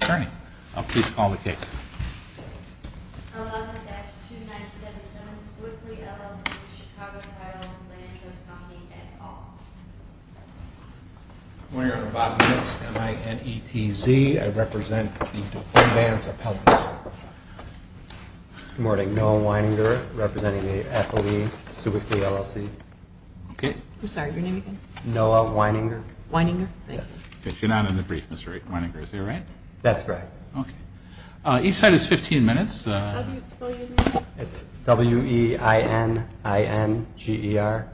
Attorney, please call the case. I'm calling on behalf of 2977 Swickley, LLC, Chicago Title Land Trust Co. et al. Good morning, Your Honor. I'm Bob Nitz, M-I-N-E-T-Z. I represent the Defendants Appellants. Good morning. Noah Weininger, representing the FLE, Swickley, LLC. I'm sorry, your name again? Weininger, thank you. You're not in the brief, Mr. Weininger. Is that right? That's right. Okay. Each side is 15 minutes. How do you spell your name? It's W-E-I-N-I-N-G-E-R.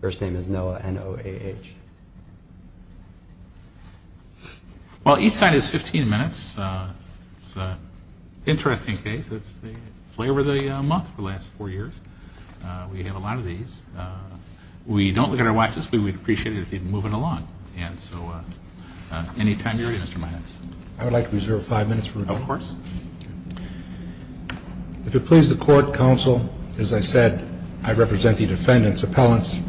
First name is Noah, N-O-A-H. Well, each side is 15 minutes. It's an interesting case. It's the flavor of the month for the last four years. We have a lot of these. We don't look at our watches, but we'd appreciate it if you'd move it along. And so any time you're ready, Mr. Meines. I would like to reserve five minutes for rebuttal. Of course. If it pleases the Court, Counsel, as I said, I represent the Defendants Appellants.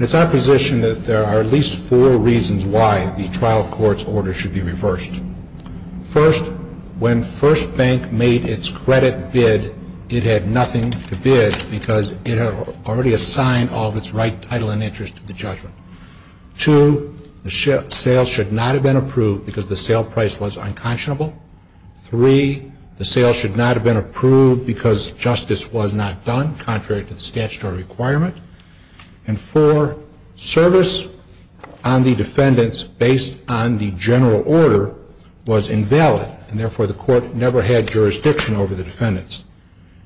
It's our position that there are at least four reasons why the trial court's order should be reversed. First, when First Bank made its credit bid, it had nothing to bid because it had already assigned all of its right title and interest to the judgment. Two, the sale should not have been approved because the sale price was unconscionable. Three, the sale should not have been approved because justice was not done, contrary to the statutory requirement. And four, service on the defendants based on the general order was invalid, and therefore the court never had jurisdiction over the defendants.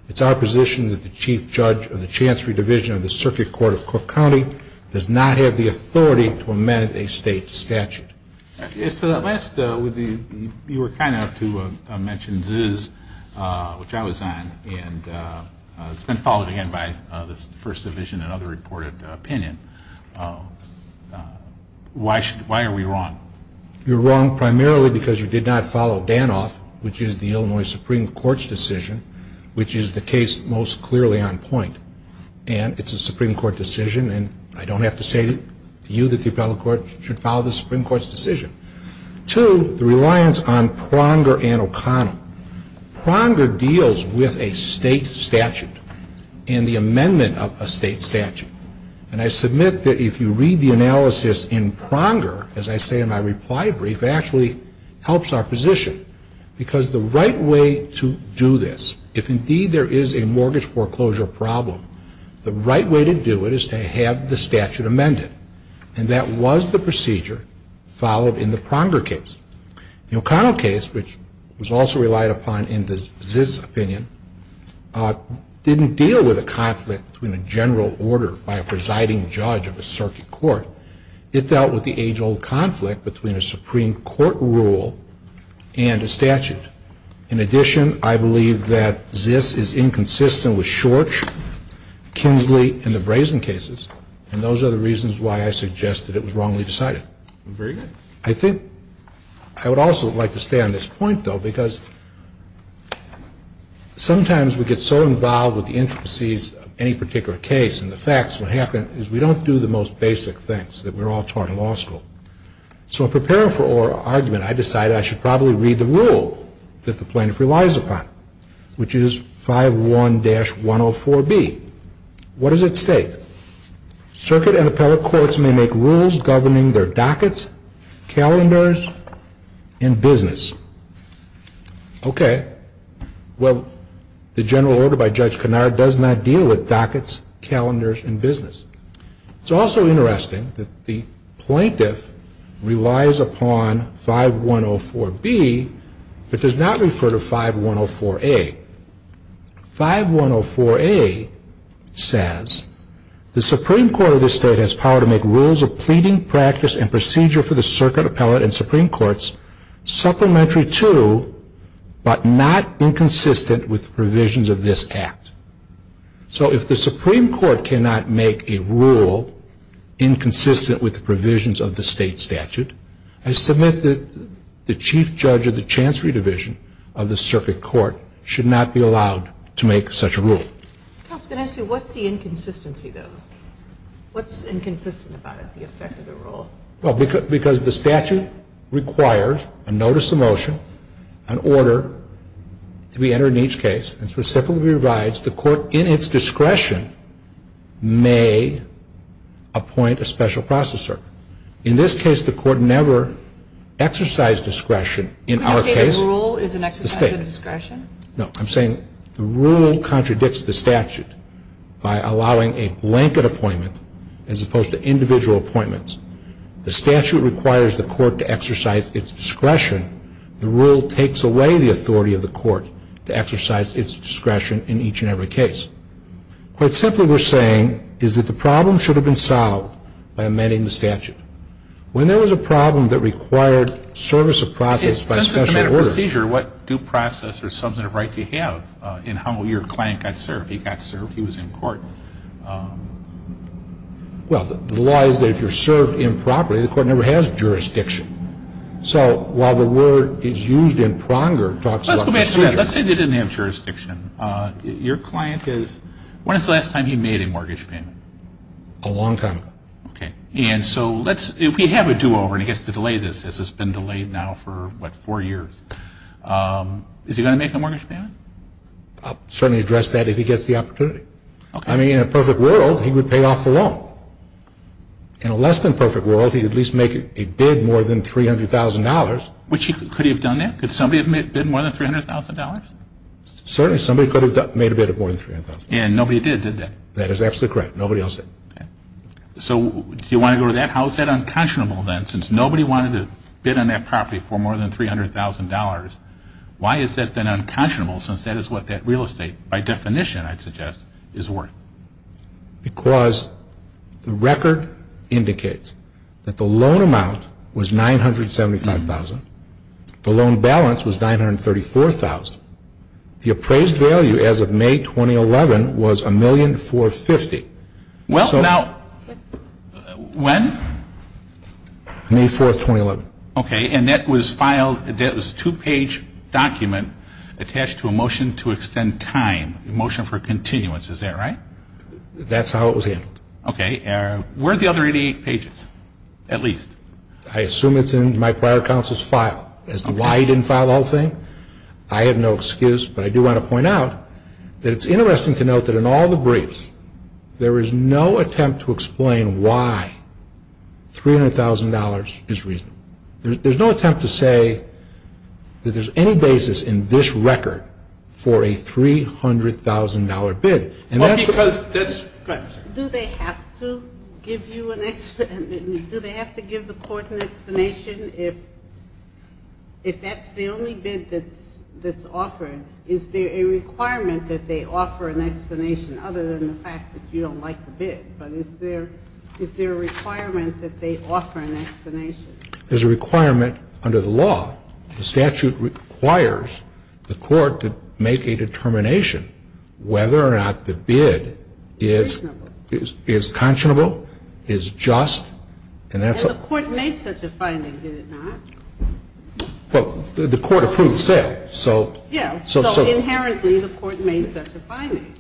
It's our position that the Chief Judge of the Chancery Division of the Circuit Court of Cook County does not have the authority to amend a state statute. So last, you were kind enough to mention Ziz, which I was on, and it's been followed again by the First Division and other reported opinion. Why are we wrong? One, you're wrong primarily because you did not follow Danoff, which is the Illinois Supreme Court's decision, which is the case most clearly on point. And it's a Supreme Court decision, and I don't have to say to you that the appellate court should follow the Supreme Court's decision. Two, the reliance on Pronger and O'Connell. Pronger deals with a state statute and the amendment of a state statute. And I submit that if you read the analysis in Pronger, as I say in my reply brief, it actually helps our position. Because the right way to do this, if indeed there is a mortgage foreclosure problem, the right way to do it is to have the statute amended. And that was the procedure followed in the Pronger case. The O'Connell case, which was also relied upon in the Ziz opinion, didn't deal with a conflict between a general order by a presiding judge of a circuit court. It dealt with the age-old conflict between a Supreme Court rule and a statute. In addition, I believe that Ziz is inconsistent with Schorch, Kinsley, and the Brazen cases, and those are the reasons why I suggest that it was wrongly decided. Very good. I think I would also like to stay on this point, though, because sometimes we get so involved with the intricacies of any particular case and the facts, what happens is we don't do the most basic things, that we're all taught in law school. So in preparing for our argument, I decided I should probably read the rule that the plaintiff relies upon, which is 5.1-104B. What does it state? Circuit and appellate courts may make rules governing their dockets, calendars, and business. Okay. Well, the general order by Judge Kennard does not deal with dockets, calendars, and business. It's also interesting that the plaintiff relies upon 5.1-104B but does not refer to 5.1-104A. 5.1-104A says, The Supreme Court of this State has power to make rules of pleading, practice, and procedure for the Circuit, Appellate, and Supreme Courts supplementary to, but not inconsistent with, the provisions of this Act. So if the Supreme Court cannot make a rule inconsistent with the provisions of the State statute, I submit that the Chief Judge of the Chancery Division of the Circuit Court should not be allowed to make such a rule. Counsel, can I ask you, what's the inconsistency, though? What's inconsistent about it, the effect of the rule? Well, because the statute requires a notice of motion, an order to be entered in each case, and specifically provides the court, in its discretion, may appoint a special processor. In this case, the court never exercised discretion. Could you say the rule is an exercise of discretion? No. I'm saying the rule contradicts the statute by allowing a blanket appointment as opposed to individual appointments. The statute requires the court to exercise its discretion. The rule takes away the authority of the court to exercise its discretion in each and every case. I'm saying the rule is an exercise of discretion. I'm saying the rule contradicts the statute by allowing the court to exercise its discretion in each and every case. Quite simply, we're saying is that the problem should have been solved by amending the statute. When there was a problem that required service of process by special orders. So while the word is used in pronger, it talks about procedure. Let's go back to that. Let's say they didn't have jurisdiction. Your client is, when is the last time he made a mortgage payment? A long time ago. Okay. And so let's, if he had a do-over and he gets to delay this, as it's been delayed now for, what, four years, is he going to make a mortgage payment? I'll certainly address that if he gets the opportunity. Okay. I mean, in a perfect world, he would pay off the loan. In a less than perfect world, he'd at least make a bid more than $300,000. Could he have done that? Could somebody have bid more than $300,000? Certainly somebody could have made a bid of more than $300,000. And nobody did, did they? That is absolutely correct. Nobody else did. Okay. So do you want to go to that? How is that unconscionable then since nobody wanted to bid on that property for more than $300,000? Why is that then unconscionable since that is what that real estate, by definition, I'd suggest, is worth? Because the record indicates that the loan amount was $975,000. The loan balance was $934,000. The appraised value as of May 2011 was $1,450,000. Well, now, when? May 4th, 2011. Okay. And that was filed, that was a two-page document attached to a motion to extend time, a motion for continuance, is that right? That's how it was handled. Okay. Where are the other 88 pages, at least? I assume it's in my prior counsel's file as to why he didn't file the whole thing. I have no excuse, but I do want to point out that it's interesting to note that in all the briefs, there is no attempt to explain why $300,000 is reasonable. There's no attempt to say that there's any basis in this record for a $300,000 bid. Do they have to give you an explanation? Do they have to give the court an explanation if that's the only bid that's offered? Is there a requirement that they offer an explanation other than the fact that you don't like the bid? Is there a requirement that they offer an explanation? There's a requirement under the law. The statute requires the court to make a determination whether or not the bid is conscionable, is just. And the court made such a finding, did it not? Well, the court approved the sale. Yeah. So inherently the court made such a finding.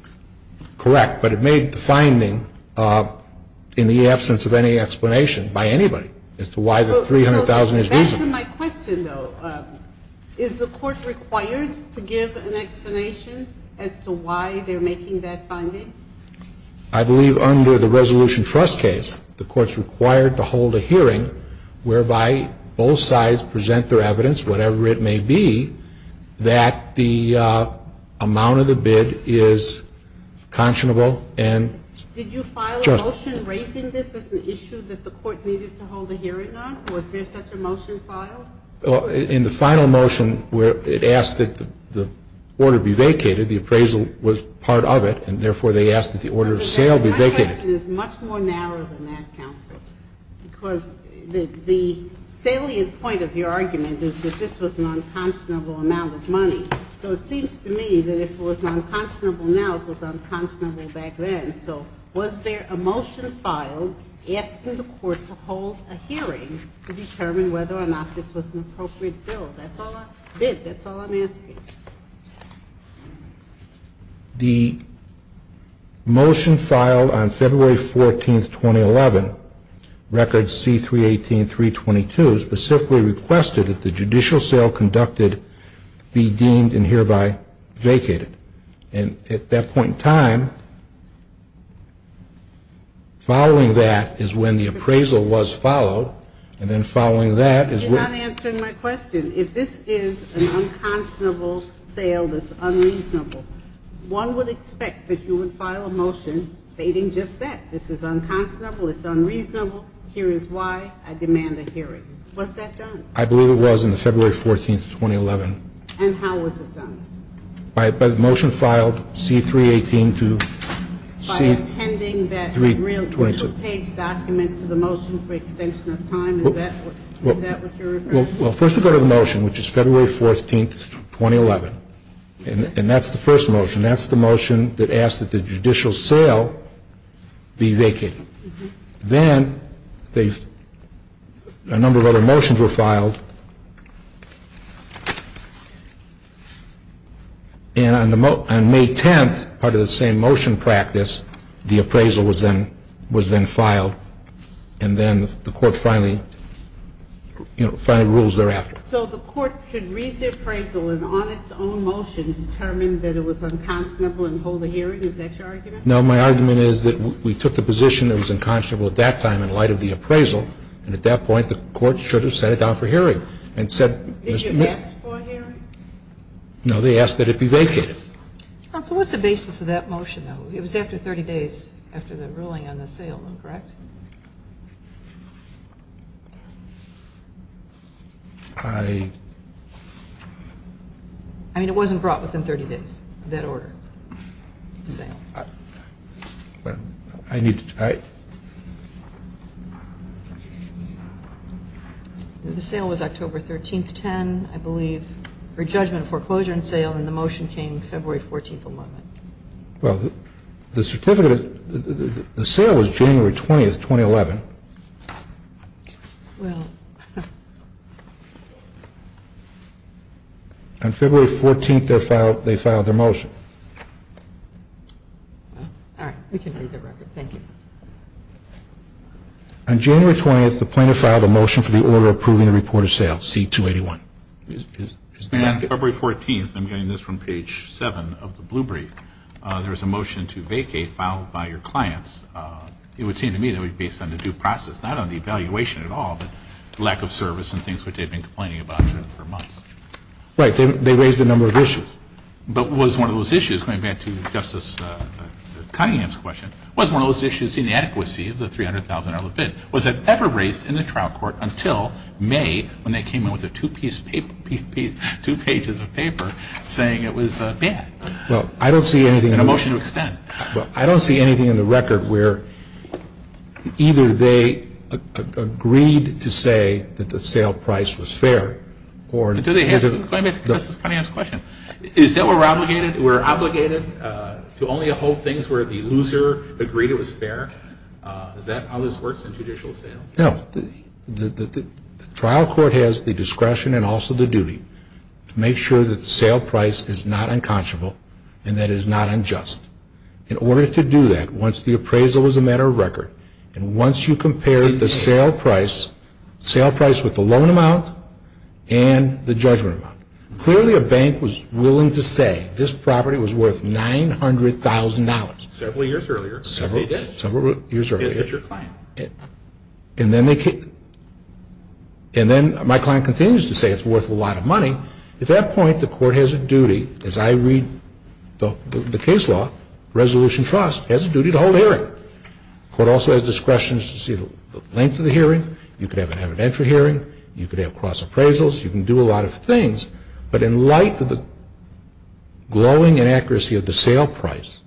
Correct. But it made the finding in the absence of any explanation by anybody as to why the $300,000 is reasonable. Back to my question, though. Is the court required to give an explanation as to why they're making that finding? I believe under the Resolution Trust case, the court's required to hold a hearing whereby both sides present their evidence, whatever it may be, that the amount of the bid is conscionable and just. Did you file a motion raising this as an issue that the court needed to hold a hearing on? Was there such a motion filed? In the final motion, it asked that the order be vacated. The appraisal was part of it, and therefore they asked that the order of sale be vacated. My question is much more narrow than that, counsel, because the salient point of your argument is that this was an unconscionable amount of money. So it seems to me that if it was unconscionable now, it was unconscionable back then. So was there a motion filed asking the court to hold a hearing to determine whether or not this was an appropriate bill? That's all I bid. That's all I'm asking. The motion filed on February 14, 2011, record C-318.322, specifically requested that the judicial sale conducted be deemed and hereby vacated. And at that point in time, following that is when the appraisal was followed, and then following that is when the appraisal was held. You're not answering my question. If this is an unconscionable sale that's unreasonable, one would expect that you would file a motion stating just that. This is unconscionable. It's unreasonable. Here is why I demand a hearing. Was that done? I believe it was on February 14, 2011. And how was it done? By the motion filed C-318 to C-322. By appending that real-page document to the motion for extension of time? Is that what you're referring to? Well, first we go to the motion, which is February 14, 2011. And that's the first motion. That's the motion that asks that the judicial sale be vacated. Then a number of other motions were filed. And on May 10, part of the same motion practice, the appraisal was then filed. And then the Court finally, you know, finally rules thereafter. So the Court should read the appraisal and on its own motion determine that it was unconscionable and hold a hearing? Is that your argument? No. My argument is that we took the position it was unconscionable at that time in light of the appraisal. And at that point, the Court should have set it down for hearing and said Mr. Did you ask for a hearing? No. They asked that it be vacated. Counsel, what's the basis of that motion, though? It was after 30 days after the ruling on the sale, correct? I... I mean, it wasn't brought within 30 days of that order, the sale. Well, I need to... The sale was October 13, 2010, I believe, for judgment of foreclosure and sale. And the motion came February 14, 11. Well, the certificate, the sale was January 20, 2011. Well... On February 14, they filed their motion. All right. We can read the record. Thank you. On January 20, the plaintiff filed a motion for the order approving the report of sale, C-281. And on February 14, and I'm getting this from page 7 of the Blue Brief, there was a motion to vacate filed by your clients. It would seem to me that it was based on the due process, not on the evaluation at all, but lack of service and things which they had been complaining about for months. Right. They raised a number of issues. But was one of those issues, going back to Justice Cunningham's question, was one of those issues inadequacy of the $300,000 limit? Was it ever raised in the trial court until May when they came in with a two-pages of paper saying it was bad? Well, I don't see anything... And a motion to extend. Well, I don't see anything in the record where either they agreed to say that the sale price was fair or... And to the plaintiff, Justice Cunningham's question, is that we're obligated to only hold things where the loser agreed it was fair? Is that how this works in judicial sales? No. The trial court has the discretion and also the duty to make sure that the sale price is not unconscionable and that it is not unjust. In order to do that, once the appraisal was a matter of record, and once you compare the sale price with the loan amount and the judgment amount, clearly a bank was willing to say this property was worth $900,000. Several years earlier. Several years earlier. Because it's your client. And then my client continues to say it's worth a lot of money. At that point, the court has a duty, as I read the case law, Resolution Trust has a duty to hold a hearing. The court also has discretion to see the length of the hearing. You could have an evidentiary hearing. You could have cross-appraisals. You can do a lot of things. But in light of the glowing inaccuracy of the sale price,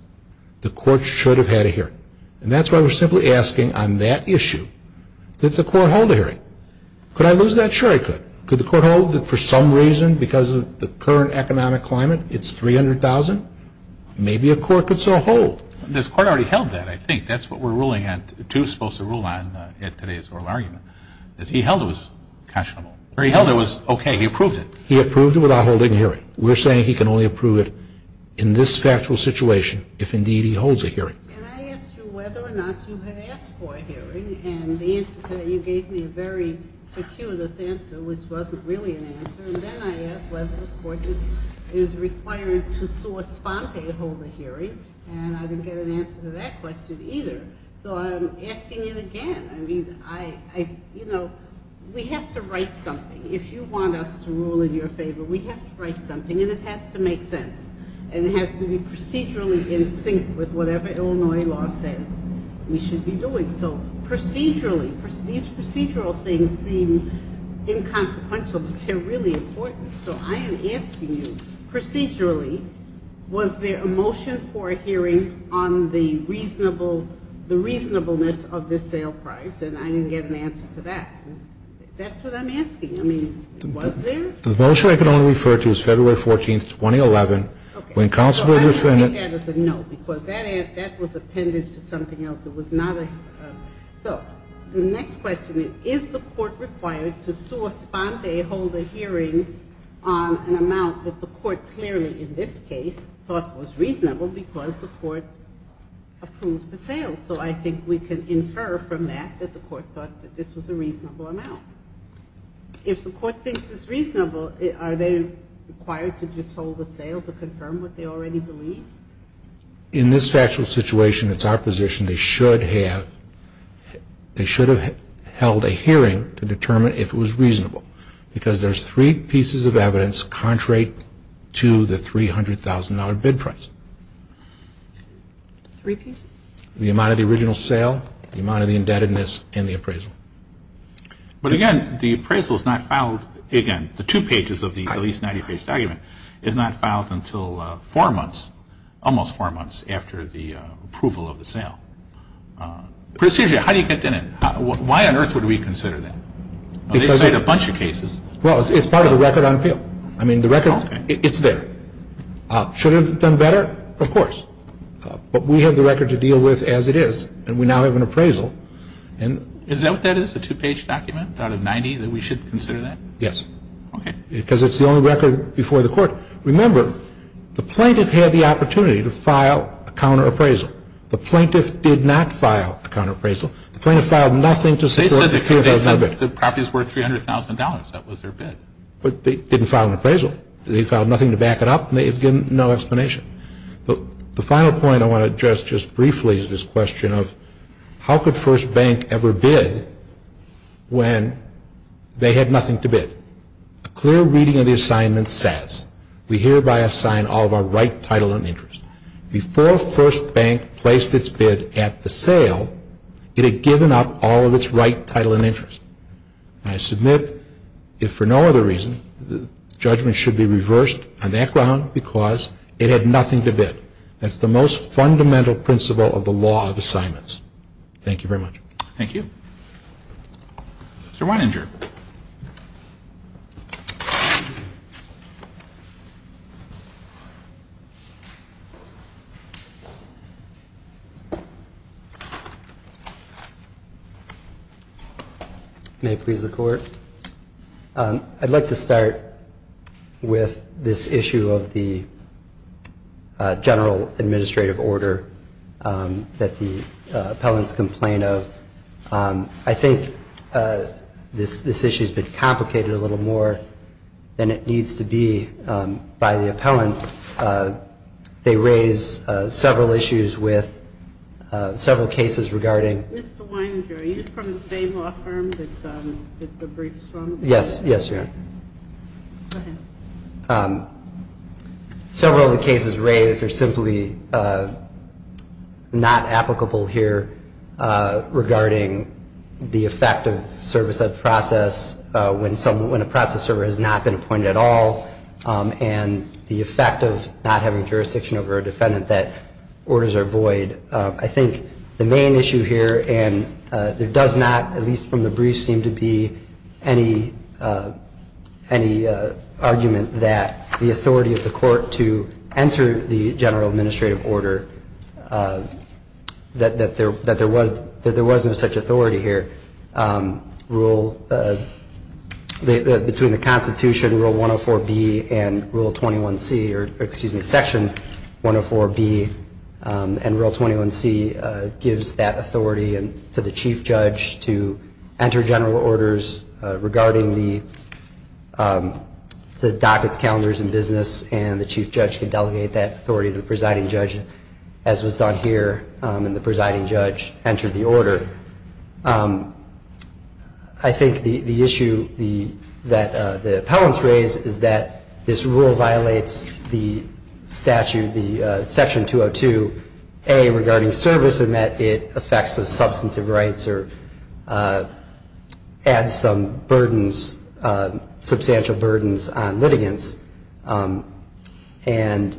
the court should have had a hearing. And that's why we're simply asking on that issue, did the court hold a hearing? Could I lose that? Sure, I could. Could the court hold that for some reason because of the current economic climate it's $300,000? Maybe a court could so hold. This court already held that, I think. That's what we're ruling on, too, supposed to rule on in today's oral argument, is he held it was conscionable. Or he held it was okay. He approved it. He approved it without holding a hearing. We're saying he can only approve it in this factual situation if, indeed, he holds a hearing. And I asked you whether or not you had asked for a hearing. And you gave me a very circuitous answer, which wasn't really an answer. And then I asked whether the court is required to sua sponte hold a hearing. And I didn't get an answer to that question either. So I'm asking it again. I mean, you know, we have to write something. If you want us to rule in your favor, we have to write something. And it has to make sense. And it has to be procedurally in sync with whatever Illinois law says we should be doing. So procedurally, these procedural things seem inconsequential, but they're really important. So I am asking you, procedurally, was there a motion for a hearing on the reasonableness of this sale price? And I didn't get an answer to that. That's what I'm asking. I mean, was there? The motion I can only refer to is February 14th, 2011. Okay. When counsel would refer to it. No, because that was appended to something else. It was not a. So the next question is, is the court required to sua sponte hold a hearing on an amount that the court clearly, in this case, thought was reasonable because the court approved the sale? And so I think we can infer from that that the court thought that this was a reasonable amount. If the court thinks it's reasonable, are they required to just hold the sale to confirm what they already believe? In this factual situation, it's our position they should have held a hearing to determine if it was reasonable. Because there's three pieces of evidence contrary to the $300,000 bid price. Three pieces? The amount of the original sale, the amount of the indebtedness, and the appraisal. But, again, the appraisal is not filed. Again, the two pages of the at least 90-page document is not filed until four months, almost four months after the approval of the sale. Precision, how do you get in it? Why on earth would we consider that? They cite a bunch of cases. Well, it's part of the record on appeal. I mean, the record, it's there. Should it have been better? Of course. But we have the record to deal with as it is, and we now have an appraisal. Is that what that is, a two-page document out of 90 that we should consider that? Yes. Okay. Because it's the only record before the court. Remember, the plaintiff had the opportunity to file a counterappraisal. The plaintiff did not file a counterappraisal. The plaintiff filed nothing to support the $300,000 bid. They said the property is worth $300,000. That was their bid. But they didn't file an appraisal. They filed nothing to back it up, and they've given no explanation. But the final point I want to address just briefly is this question of how could First Bank ever bid when they had nothing to bid? A clear reading of the assignment says, we hereby assign all of our right, title, and interest. Before First Bank placed its bid at the sale, it had given up all of its right, title, and interest. I submit, if for no other reason, the judgment should be reversed on that ground because it had nothing to bid. That's the most fundamental principle of the law of assignments. Thank you very much. Thank you. Mr. Weininger. May it please the Court. I'd like to start with this issue of the general administrative order that the appellants complain of. I think this issue has been complicated a little more than it needs to be by the appellants. They raise several issues with several cases regarding Mr. Weininger, are you from the same law firm that the brief is from? Yes. Yes, Your Honor. Go ahead. Several of the cases raised are simply not applicable here regarding the effect of service of process when a process server has not been appointed at all and the effect of not having jurisdiction over a defendant that orders are void. I think the main issue here, and there does not, at least from the brief, seem to be any argument that the authority of the court to enter the general administrative order, that there was no such authority here, between the Constitution, Rule 104B and Rule 21C, or excuse me, Section 104B, and Rule 21C gives that authority to the chief judge to enter general orders regarding the dockets, calendars, and business, and the chief judge can delegate that authority to the presiding judge, as was done here, and the presiding judge entered the order. I think the issue that the appellants raise is that this rule violates the statute, the Section 202A, regarding service in that it affects the substance of rights or adds some burdens, substantial burdens on litigants. And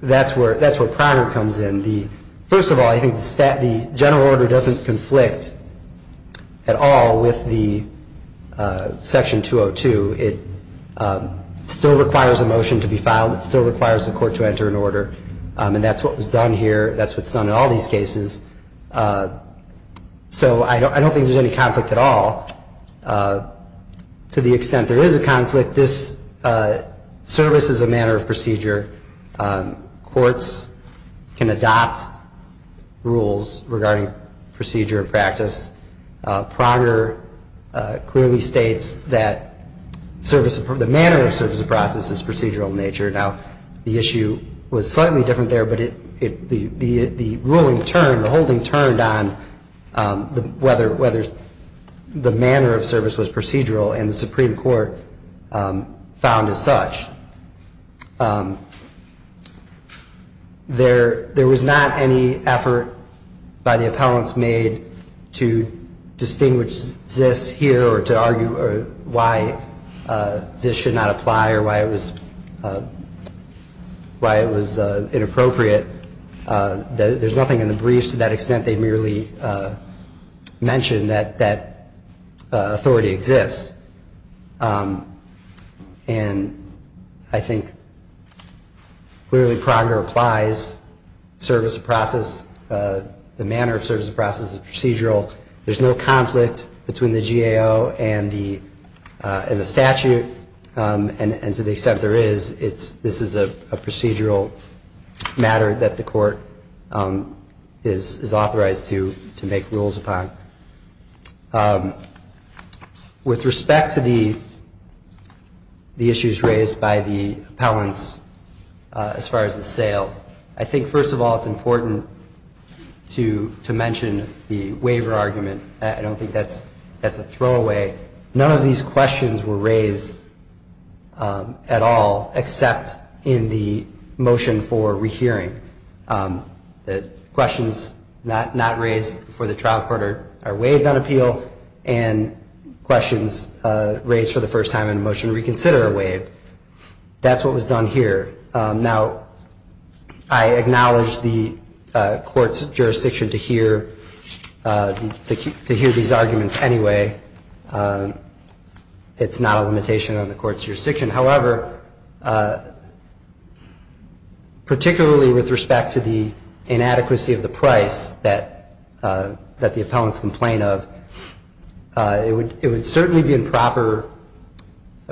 that's where priority comes in. First of all, I think the general order doesn't conflict at all with the Section 202. It still requires a motion to be filed. It still requires the court to enter an order, and that's what was done here. That's what's done in all these cases. So I don't think there's any conflict at all. To the extent there is a conflict, this service is a manner of procedure. Courts can adopt rules regarding procedure and practice. Prager clearly states that the manner of service of process is procedural in nature. Now, the issue was slightly different there, but the ruling turned, turned on whether the manner of service was procedural, and the Supreme Court found as such. There was not any effort by the appellants made to distinguish this here or to argue why this should not apply or why it was inappropriate. There's nothing in the briefs to that extent. They merely mention that that authority exists. And I think clearly Prager applies service of process, the manner of service of process is procedural. There's no conflict between the GAO and the statute, and to the extent there is, this is a procedural matter that the court is authorized to make rules upon. With respect to the issues raised by the appellants as far as the sale, I think, first of all, it's important to mention the waiver argument. I don't think that's a throwaway. None of these questions were raised at all except in the motion for rehearing. The questions not raised before the trial court are waived on appeal, and questions raised for the first time in motion reconsider are waived. That's what was done here. Now, I acknowledge the court's jurisdiction to hear these arguments anyway. It's not a limitation on the court's jurisdiction. However, particularly with respect to the inadequacy of the price that the appellants complain of, it would certainly be improper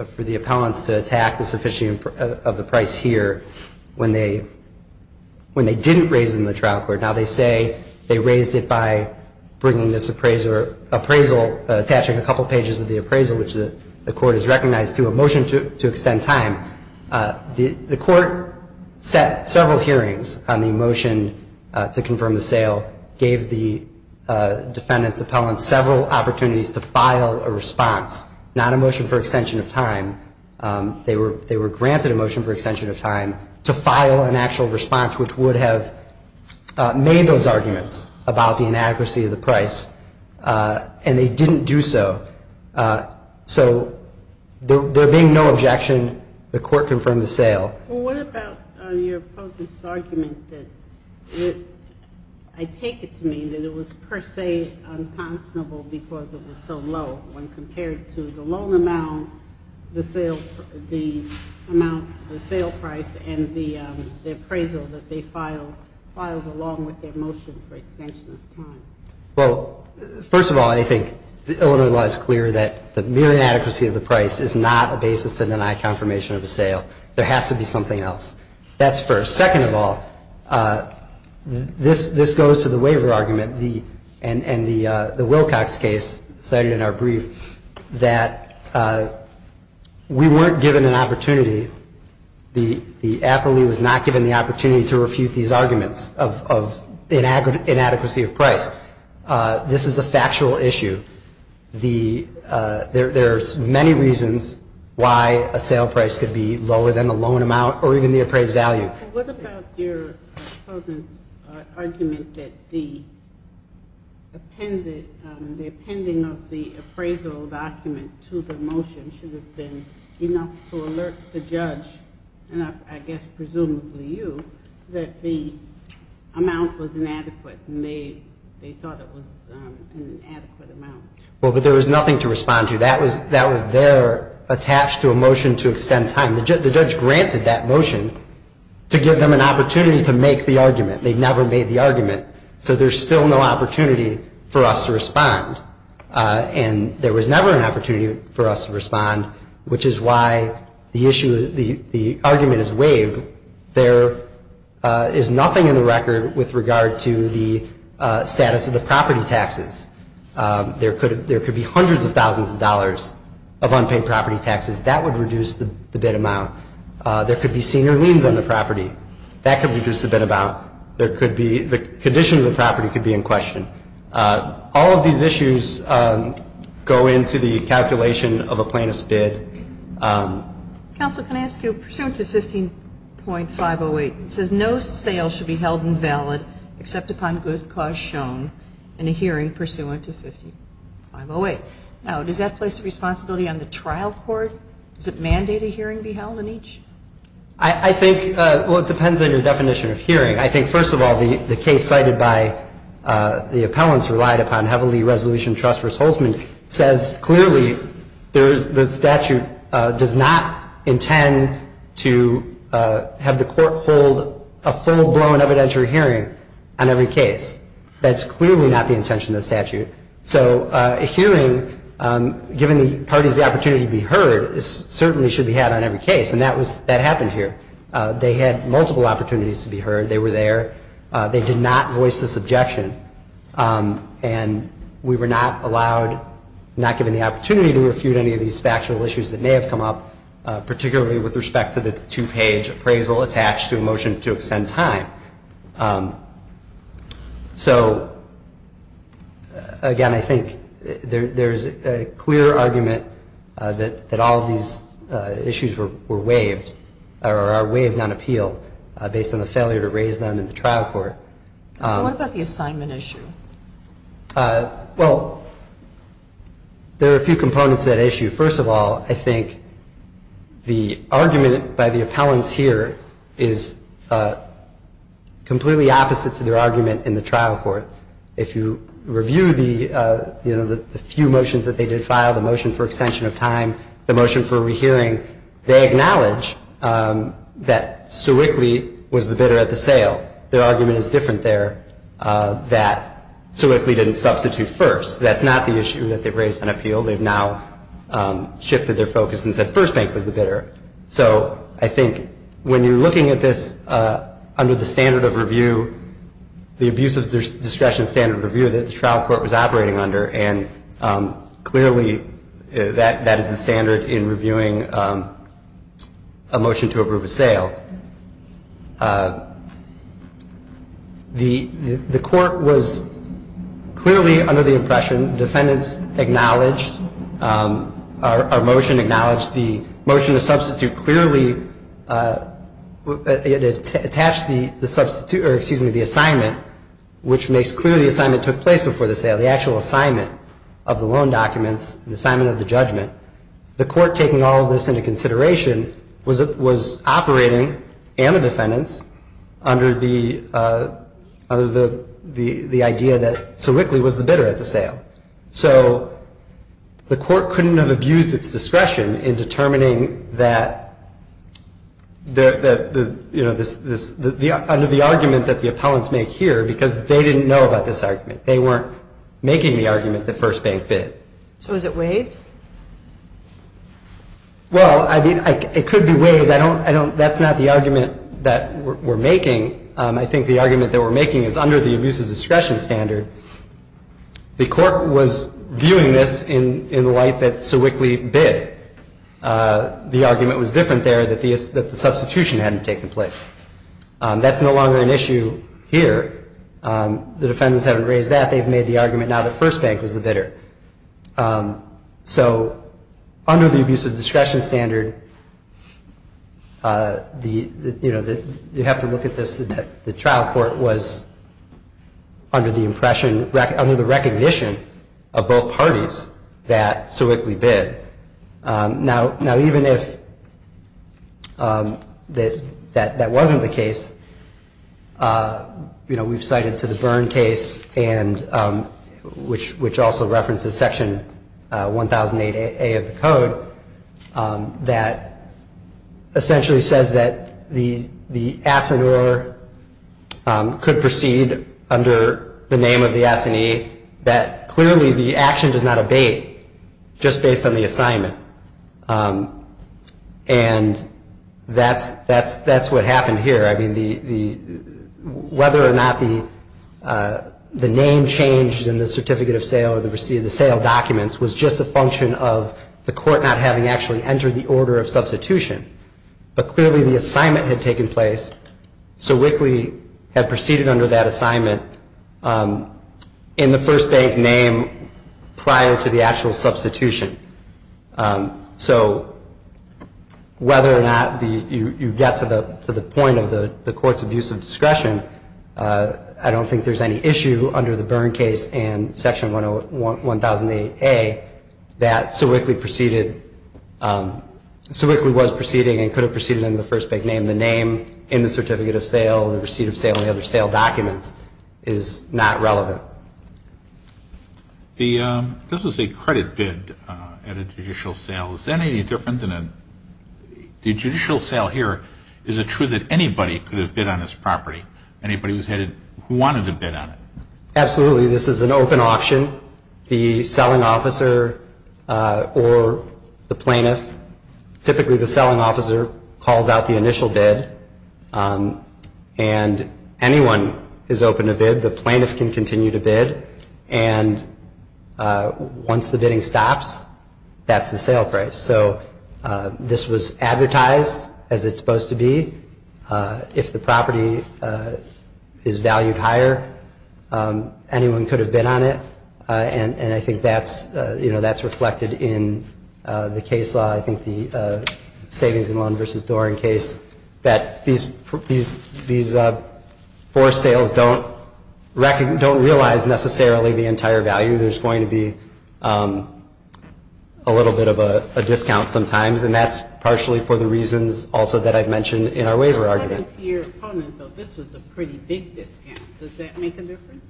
for the appellants to attack the sufficiency of the price here when they didn't raise it in the trial court. Now, they say they raised it by bringing this appraisal, attaching a couple pages of the appraisal, which the court has recognized to a motion to extend time. The court set several hearings on the motion to confirm the sale, gave the defendant's appellant several opportunities to file a response, not a motion for extension of time. They were granted a motion for extension of time to file an actual response, which would have made those arguments about the inadequacy of the price, and they didn't do so. So there being no objection, the court confirmed the sale. Well, what about your opponent's argument that I take it to mean that it was per se unconscionable because it was so low when compared to the loan amount, the amount, the sale price, and the appraisal that they filed along with their motion for extension of time? Well, first of all, I think Illinois law is clear that the mere inadequacy of the price is not a basis to deny confirmation of a sale. There has to be something else. That's first. Second of all, this goes to the waiver argument, and the Wilcox case cited in our brief, that we weren't given an opportunity, the appellee was not given the opportunity to refute these arguments of inadequacy of price. This is a factual issue. There are many reasons why a sale price could be lower than the loan amount or even the appraised value. What about your opponent's argument that the appending of the appraisal document to the motion should have been enough to alert the judge, and I guess presumably you, that the amount was inadequate and they thought it was an inadequate amount. Well, but there was nothing to respond to. That was there attached to a motion to extend time. The judge granted that motion to give them an opportunity to make the argument. They never made the argument, so there's still no opportunity for us to respond, and there was never an opportunity for us to respond, which is why the argument is waived. There is nothing in the record with regard to the status of the property taxes. There could be hundreds of thousands of dollars of unpaid property taxes. That would reduce the bid amount. There could be senior liens on the property. That could reduce the bid amount. The condition of the property could be in question. All of these issues go into the calculation of a plaintiff's bid. Counsel, can I ask you, pursuant to 15.508, it says no sale should be held invalid except upon good cause shown in a hearing pursuant to 15.508. Now, does that place a responsibility on the trial court? Does it mandate a hearing be held in each? I think, well, it depends on your definition of hearing. I think, first of all, the case cited by the appellants relied upon heavily resolutioned The statute does not intend to have the court hold a full-blown evidentiary hearing on every case. That's clearly not the intention of the statute. So a hearing, given the parties the opportunity to be heard, certainly should be had on every case. And that happened here. They had multiple opportunities to be heard. They were there. They did not voice this objection. And we were not allowed, not given the opportunity to refute any of these factual issues that may have come up, particularly with respect to the two-page appraisal attached to a motion to extend time. So, again, I think there's a clear argument that all of these issues were waived, or are waived on appeal based on the failure to raise them in the trial court. So what about the assignment issue? Well, there are a few components to that issue. First of all, I think the argument by the appellants here is completely opposite to their argument in the trial court. If you review the few motions that they did file, the motion for extension of time, the motion for rehearing, they acknowledge that Sir Wickley was the bidder at the sale. Their argument is different there that Sir Wickley didn't substitute first. That's not the issue that they've raised on appeal. They've now shifted their focus and said First Bank was the bidder. So I think when you're looking at this under the standard of review, the abuse of discretion standard of review that the trial court was operating under, and clearly that is the standard in reviewing a motion to approve a sale. The court was clearly under the impression, defendants acknowledged, our motion acknowledged the motion to substitute clearly attached the assignment, which makes clear the assignment took place before the sale, the actual assignment of the loan documents, the assignment of the judgment. The court taking all of this into consideration was operating, and the defendants, under the idea that Sir Wickley was the bidder at the sale. So the court couldn't have abused its discretion in determining that, under the argument that the appellants make here, because they didn't know about this argument. They weren't making the argument that First Bank bid. So is it waived? Well, it could be waived. That's not the argument that we're making. I think the argument that we're making is under the abuse of discretion standard, the court was viewing this in the light that Sir Wickley bid. The argument was different there, that the substitution hadn't taken place. That's no longer an issue here. The defendants haven't raised that. They've made the argument now that First Bank was the bidder. So under the abuse of discretion standard, you have to look at this that the trial court was under the impression, under the recognition of both parties that Sir Wickley bid. Now, even if that wasn't the case, we've cited to the Byrne case, which also references Section 1008A of the Code, that essentially says that the assineur could proceed under the name of the assinee, that clearly the action does not abate just based on the assignment. And that's what happened here. I mean, whether or not the name changed in the certificate of sale or the receipt of the sale documents was just a function of the court not having actually entered the order of substitution. But clearly the assignment had taken place. Sir Wickley had proceeded under that assignment in the First Bank name prior to the actual substitution. So whether or not you get to the point of the court's abuse of discretion, I don't think there's any issue under the Byrne case and Section 1008A that Sir Wickley was proceeding and could have proceeded under the First Bank name. The name in the certificate of sale, the receipt of sale, and the other sale documents is not relevant. This is a credit bid at a judicial sale. Is that any different than a judicial sale here? Is it true that anybody could have bid on this property, anybody who wanted to bid on it? Absolutely. This is an open auction. The selling officer or the plaintiff, typically the selling officer, calls out the initial bid, and anyone is open to bid. The plaintiff can continue to bid. And once the bidding stops, that's the sale price. So this was advertised as it's supposed to be. If the property is valued higher, anyone could have bid on it. And I think that's reflected in the case law, I think the savings and loan versus Doering case, that these forced sales don't realize necessarily the entire value. There's going to be a little bit of a discount sometimes, and that's partially for the reasons also that I've mentioned in our waiver argument. According to your opponent, though, this was a pretty big discount. Does that make a difference?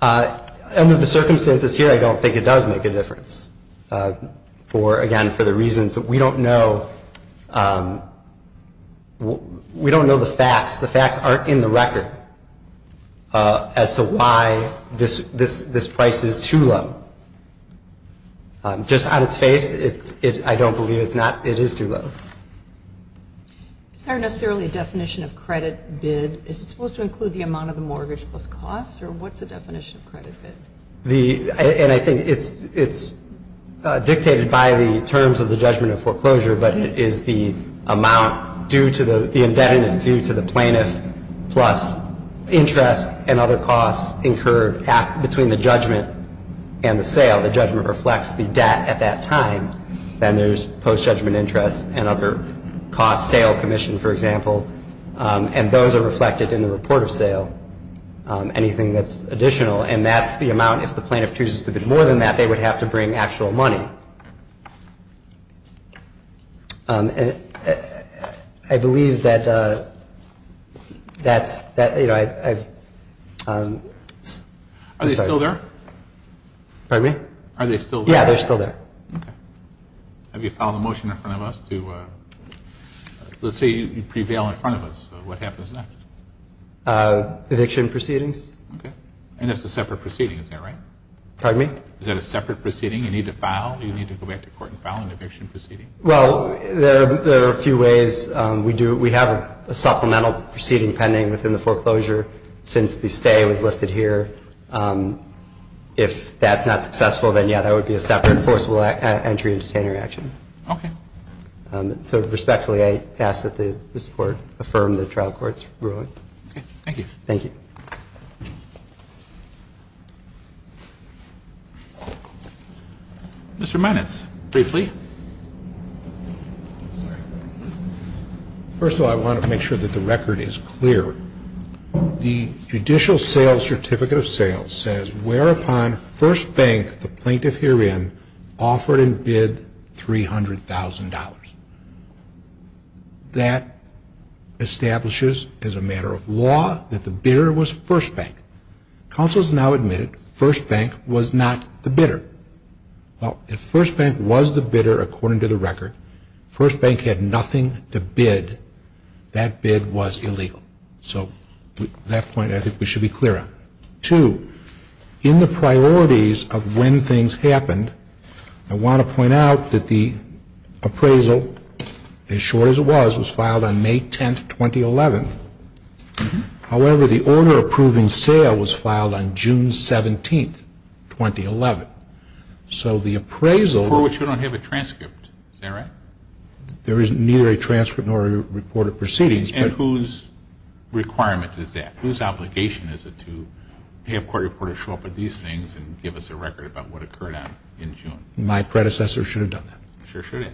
Under the circumstances here, I don't think it does make a difference. Again, for the reasons that we don't know. We don't know the facts. The facts aren't in the record as to why this price is too low. Just on its face, I don't believe it is too low. It's not necessarily a definition of credit bid. Is it supposed to include the amount of the mortgage plus cost, or what's the definition of credit bid? And I think it's dictated by the terms of the judgment of foreclosure, but it is the amount due to the indebtedness due to the plaintiff plus interest and other costs incurred between the judgment and the sale. The judgment reflects the debt at that time. Then there's post-judgment interest and other costs, sale commission, for example. And those are reflected in the report of sale, anything that's additional. And that's the amount if the plaintiff chooses to bid more than that, they would have to bring actual money. I believe that that's – I'm sorry. Are they still there? Pardon me? Are they still there? Yeah, they're still there. Okay. Have you filed a motion in front of us to – let's say you prevail in front of us. What happens next? Eviction proceedings. Okay. And that's a separate proceeding. Is that right? Pardon me? Is that a separate proceeding? You need to file? Do you need to go back to court and file an eviction proceeding? Well, there are a few ways. We have a supplemental proceeding pending within the foreclosure since the stay was lifted here. If that's not successful, then, yeah, that would be a separate enforceable entry and detainer action. Okay. So respectfully, I ask that this Court affirm the trial court's ruling. Okay. Thank you. Thank you. Mr. Minitz, briefly. First of all, I want to make sure that the record is clear. The Judicial Sales Certificate of Sales says, whereupon First Bank, the plaintiff herein, offered and bid $300,000. That establishes as a matter of law that the bidder was First Bank. Counsel has now admitted First Bank was not the bidder. Well, if First Bank was the bidder according to the record, First Bank had nothing to bid. That bid was illegal. So that point I think we should be clear on. Two, in the priorities of when things happened, I want to point out that the appraisal, as short as it was, was filed on May 10th, 2011. However, the order approving sale was filed on June 17th, 2011. So the appraisal. For which we don't have a transcript. Is that right? There is neither a transcript nor a report of proceedings. And whose requirement is that? Whose obligation is it to have court reporters show up with these things and give us a record about what occurred in June? My predecessor should have done that. Sure should have.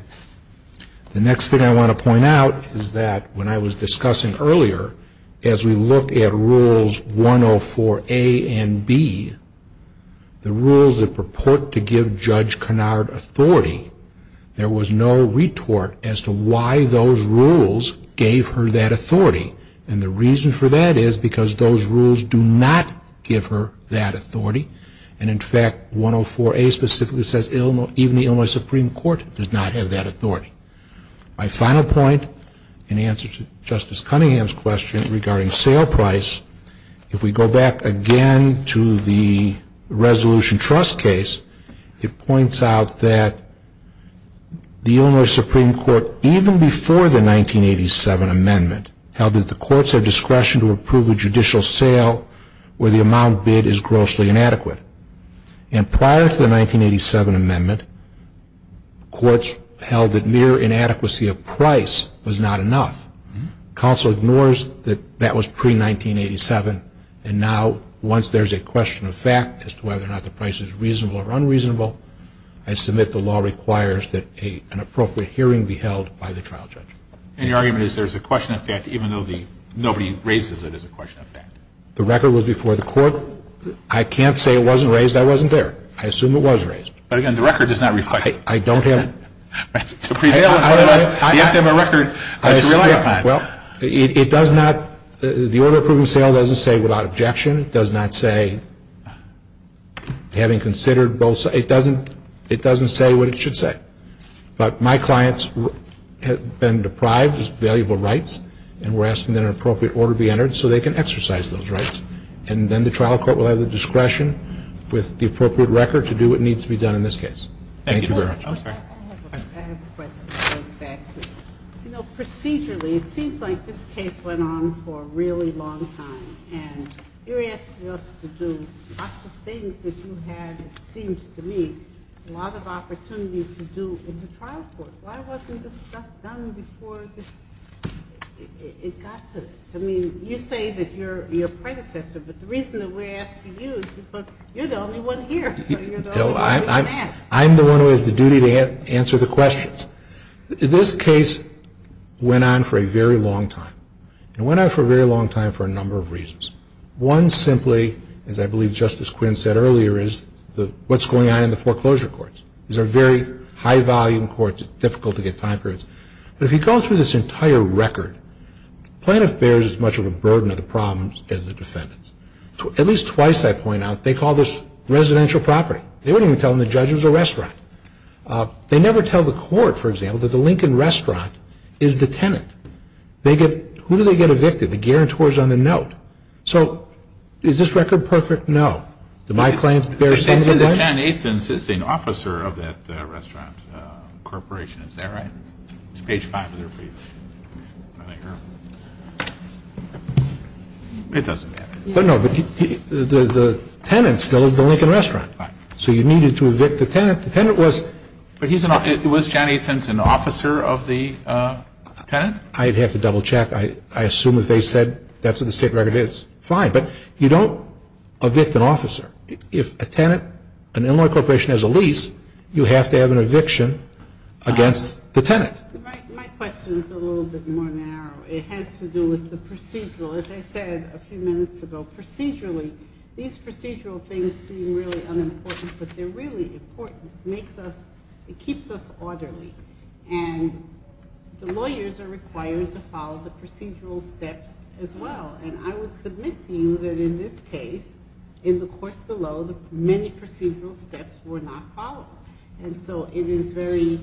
The next thing I want to point out is that when I was discussing earlier, as we look at Rules 104A and B, the rules that purport to give Judge Kennard authority, there was no retort as to why those rules gave her that authority. And the reason for that is because those rules do not give her that authority. And in fact, 104A specifically says even the Illinois Supreme Court does not have that authority. My final point in answer to Justice Cunningham's question regarding sale price, if we go back again to the Resolution Trust case, it points out that the Illinois Supreme Court, even before the 1987 amendment, held that the courts have discretion to approve a judicial sale where the amount bid is grossly inadequate. And prior to the 1987 amendment, courts held that mere inadequacy of price was not enough. Counsel ignores that that was pre-1987, and now once there's a question of fact as to whether or not the price is reasonable or unreasonable, I submit the law requires that an appropriate hearing be held by the trial judge. And your argument is there's a question of fact even though nobody raises it as a question of fact? The record was before the court. I can't say it wasn't raised. I wasn't there. I assume it was raised. But again, the record does not reflect. I don't have. I don't have a record to rely upon. Well, it does not, the order approving sale doesn't say without objection. It does not say having considered both sides. It doesn't say what it should say. But my clients have been deprived of valuable rights, and we're asking that an appropriate order be entered so they can exercise those rights. And then the trial court will have the discretion with the appropriate record to do what needs to be done in this case. Thank you very much. I have a question that goes back to, you know, procedurally, it seems like this case went on for a really long time. And you're asking us to do lots of things that you had, it seems to me, a lot of opportunity to do in the trial court. Why wasn't this stuff done before it got to this? I mean, you say that you're a predecessor, but the reason that we're asking you is because you're the only one here. So you're the only one we can ask. I'm the one who has the duty to answer the questions. This case went on for a very long time. It went on for a very long time for a number of reasons. One simply, as I believe Justice Quinn said earlier, is what's going on in the foreclosure courts. These are very high-volume courts. It's difficult to get time periods. But if you go through this entire record, the plaintiff bears as much of a burden of the problems as the defendants. At least twice, I point out, they call this residential property. They wouldn't even tell them the judge was a restaurant. They never tell the court, for example, that the Lincoln Restaurant is the tenant. Who do they get evicted? The guarantors on the note. So is this record perfect? No. Do my claims bear some of the blame? But they said that John Athens is an officer of that restaurant corporation. Is that right? It's page 500 for you. It doesn't matter. So you needed to evict the tenant. But was John Athens an officer of the tenant? I'd have to double-check. I assume if they said that's what the state record is, fine. But you don't evict an officer. If a tenant, an in-law corporation has a lease, you have to have an eviction against the tenant. My question is a little bit more narrow. It has to do with the procedural. As I said a few minutes ago, procedurally, these procedural things seem really unimportant, but they're really important. It keeps us orderly. And the lawyers are required to follow the procedural steps as well. And I would submit to you that in this case, in the court below, many procedural steps were not followed. And so it is very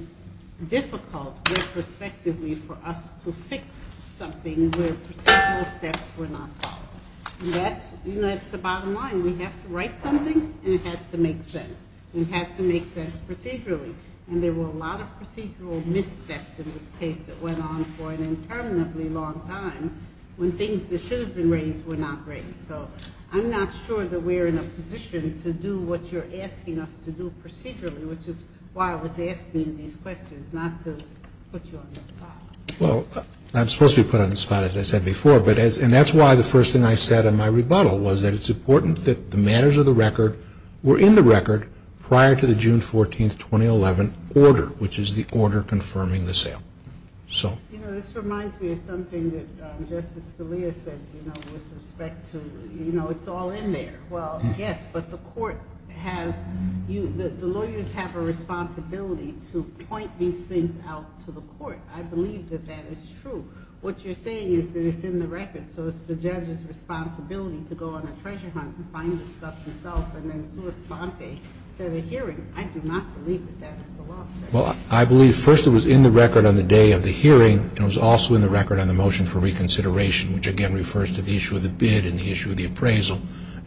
difficult retrospectively for us to fix something where procedural steps were not followed. And that's the bottom line. We have to write something, and it has to make sense. It has to make sense procedurally. And there were a lot of procedural missteps in this case that went on for an interminably long time when things that should have been raised were not raised. So I'm not sure that we're in a position to do what you're asking us to do procedurally, which is why I was asking these questions, not to put you on the spot. Well, I'm supposed to be put on the spot, as I said before. And that's why the first thing I said in my rebuttal was that it's important that the matters of the record were in the record prior to the June 14, 2011, order, which is the order confirming the sale. You know, this reminds me of something that Justice Scalia said with respect to, you know, it's all in there. Well, yes, but the court has you, the lawyers have a responsibility to point these things out to the court. I believe that that is true. What you're saying is that it's in the record, so it's the judge's responsibility to go on a treasure hunt and find this stuff himself. And then Sua Sponte said at hearing, I do not believe that that was the law, sir. Well, I believe first it was in the record on the day of the hearing, and it was also in the record on the motion for reconsideration, which again refers to the issue of the bid and the issue of the appraisal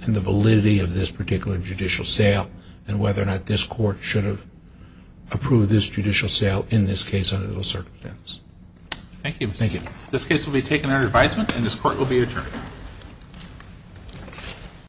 and the validity of this particular judicial sale and whether or not this court should have approved this judicial sale in this case under those circumstances. Thank you. Thank you. This case will be taken under advisement and this court will be adjourned.